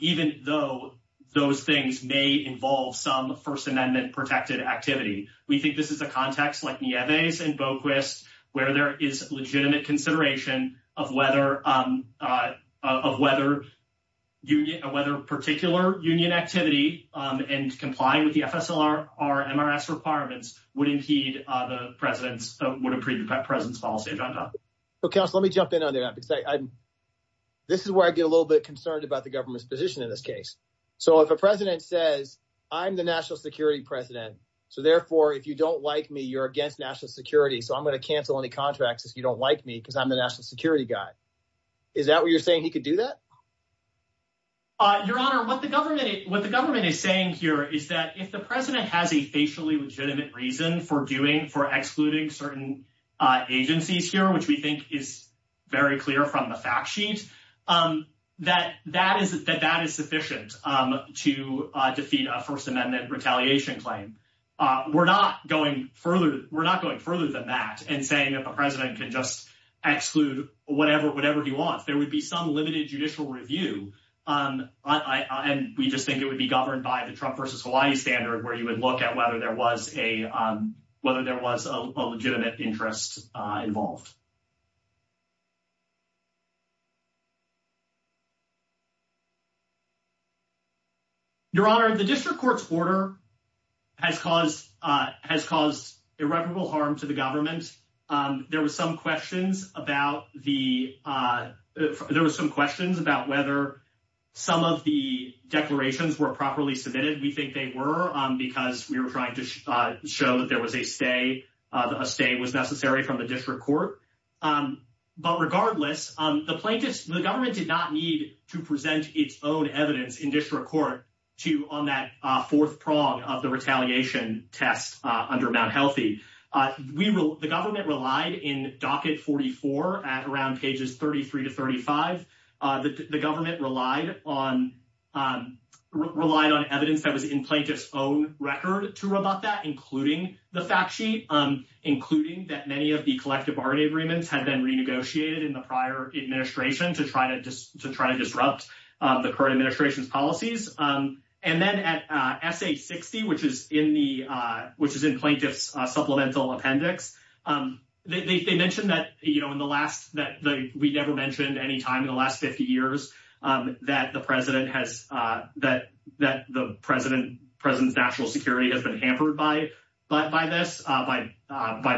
even though those things may involve some First Amendment-protected activity. We think this is a context like Nieves and Boquist, where there is legitimate consideration of whether particular union activity and complying with the FSL-MRS requirements would impede the President's policy agenda. Counsel, let me jump in on that. This is where I get a little bit concerned about the government's position in this case. So if a President says, I'm the national security President so therefore if you don't like me, you're against national security, so I'm going to cancel any contracts if you don't like me because I'm the national security guy. Is that what you're saying he could do that? Your Honor, what the government is saying here is that if the President has a facially legitimate reason for excluding certain agencies here, which we think is very clear from the fact sheet, that that is sufficient to defeat a First Amendment retaliation claim. We're not going further than that in saying that the President can just exclude whatever he wants. There would be some limited judicial review and we just think it would be governed by the Trump versus Hawaii standard where you would look at whether there was a legitimate interest involved. Your Honor, the District Court's order has caused irreparable harm to the government. There were some questions about whether some of the declarations were properly submitted. We think they were because we were trying to show that there was a stay. A stay was necessary from the District Court. But regardless, the government did not need to present its own evidence in District Court on that fourth prong of the retaliation test under Mt. Healthy. The government relied in Docket 44 at around pages 33 to 35. The government relied on evidence that was in the plaintiff's own record to rebut that, including the fact sheet, including that many of the collective bargaining agreements had been renegotiated in the prior administration to try to disrupt the current administration's policies. And then at S.A. 60, which is in plaintiff's supplemental appendix, they mentioned that we never mentioned any time in the last 50 years that the president's national security has been hampered by this, by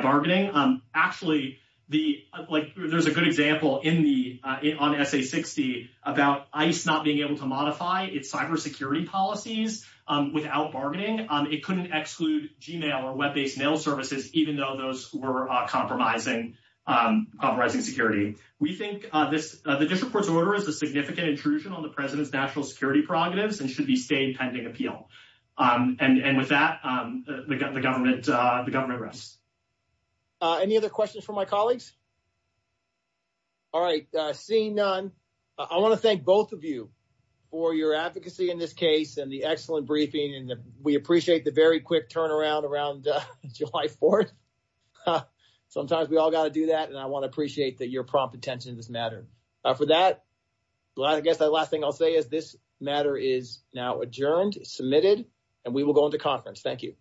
bargaining. Actually, there's a good example on S.A. 60 about ICE not being able to modify its cybersecurity policies without bargaining. It couldn't exclude Gmail or web-based mail services, even though those were compromising security. We think the District Court's order is a significant intrusion on the president's national security prerogatives and should be stayed pending appeal. And with that, the government rests. Any other questions from my colleagues? All right. Seeing none, I want to thank both of you for your advocacy in this case and the excellent briefing and we appreciate the very quick turnaround around July 4th. Sometimes we all got to do that and I want to appreciate your prompt attention to this matter. For that, I guess the last thing I'll say is this matter is now adjourned, submitted, and we will go into conference. Thank you.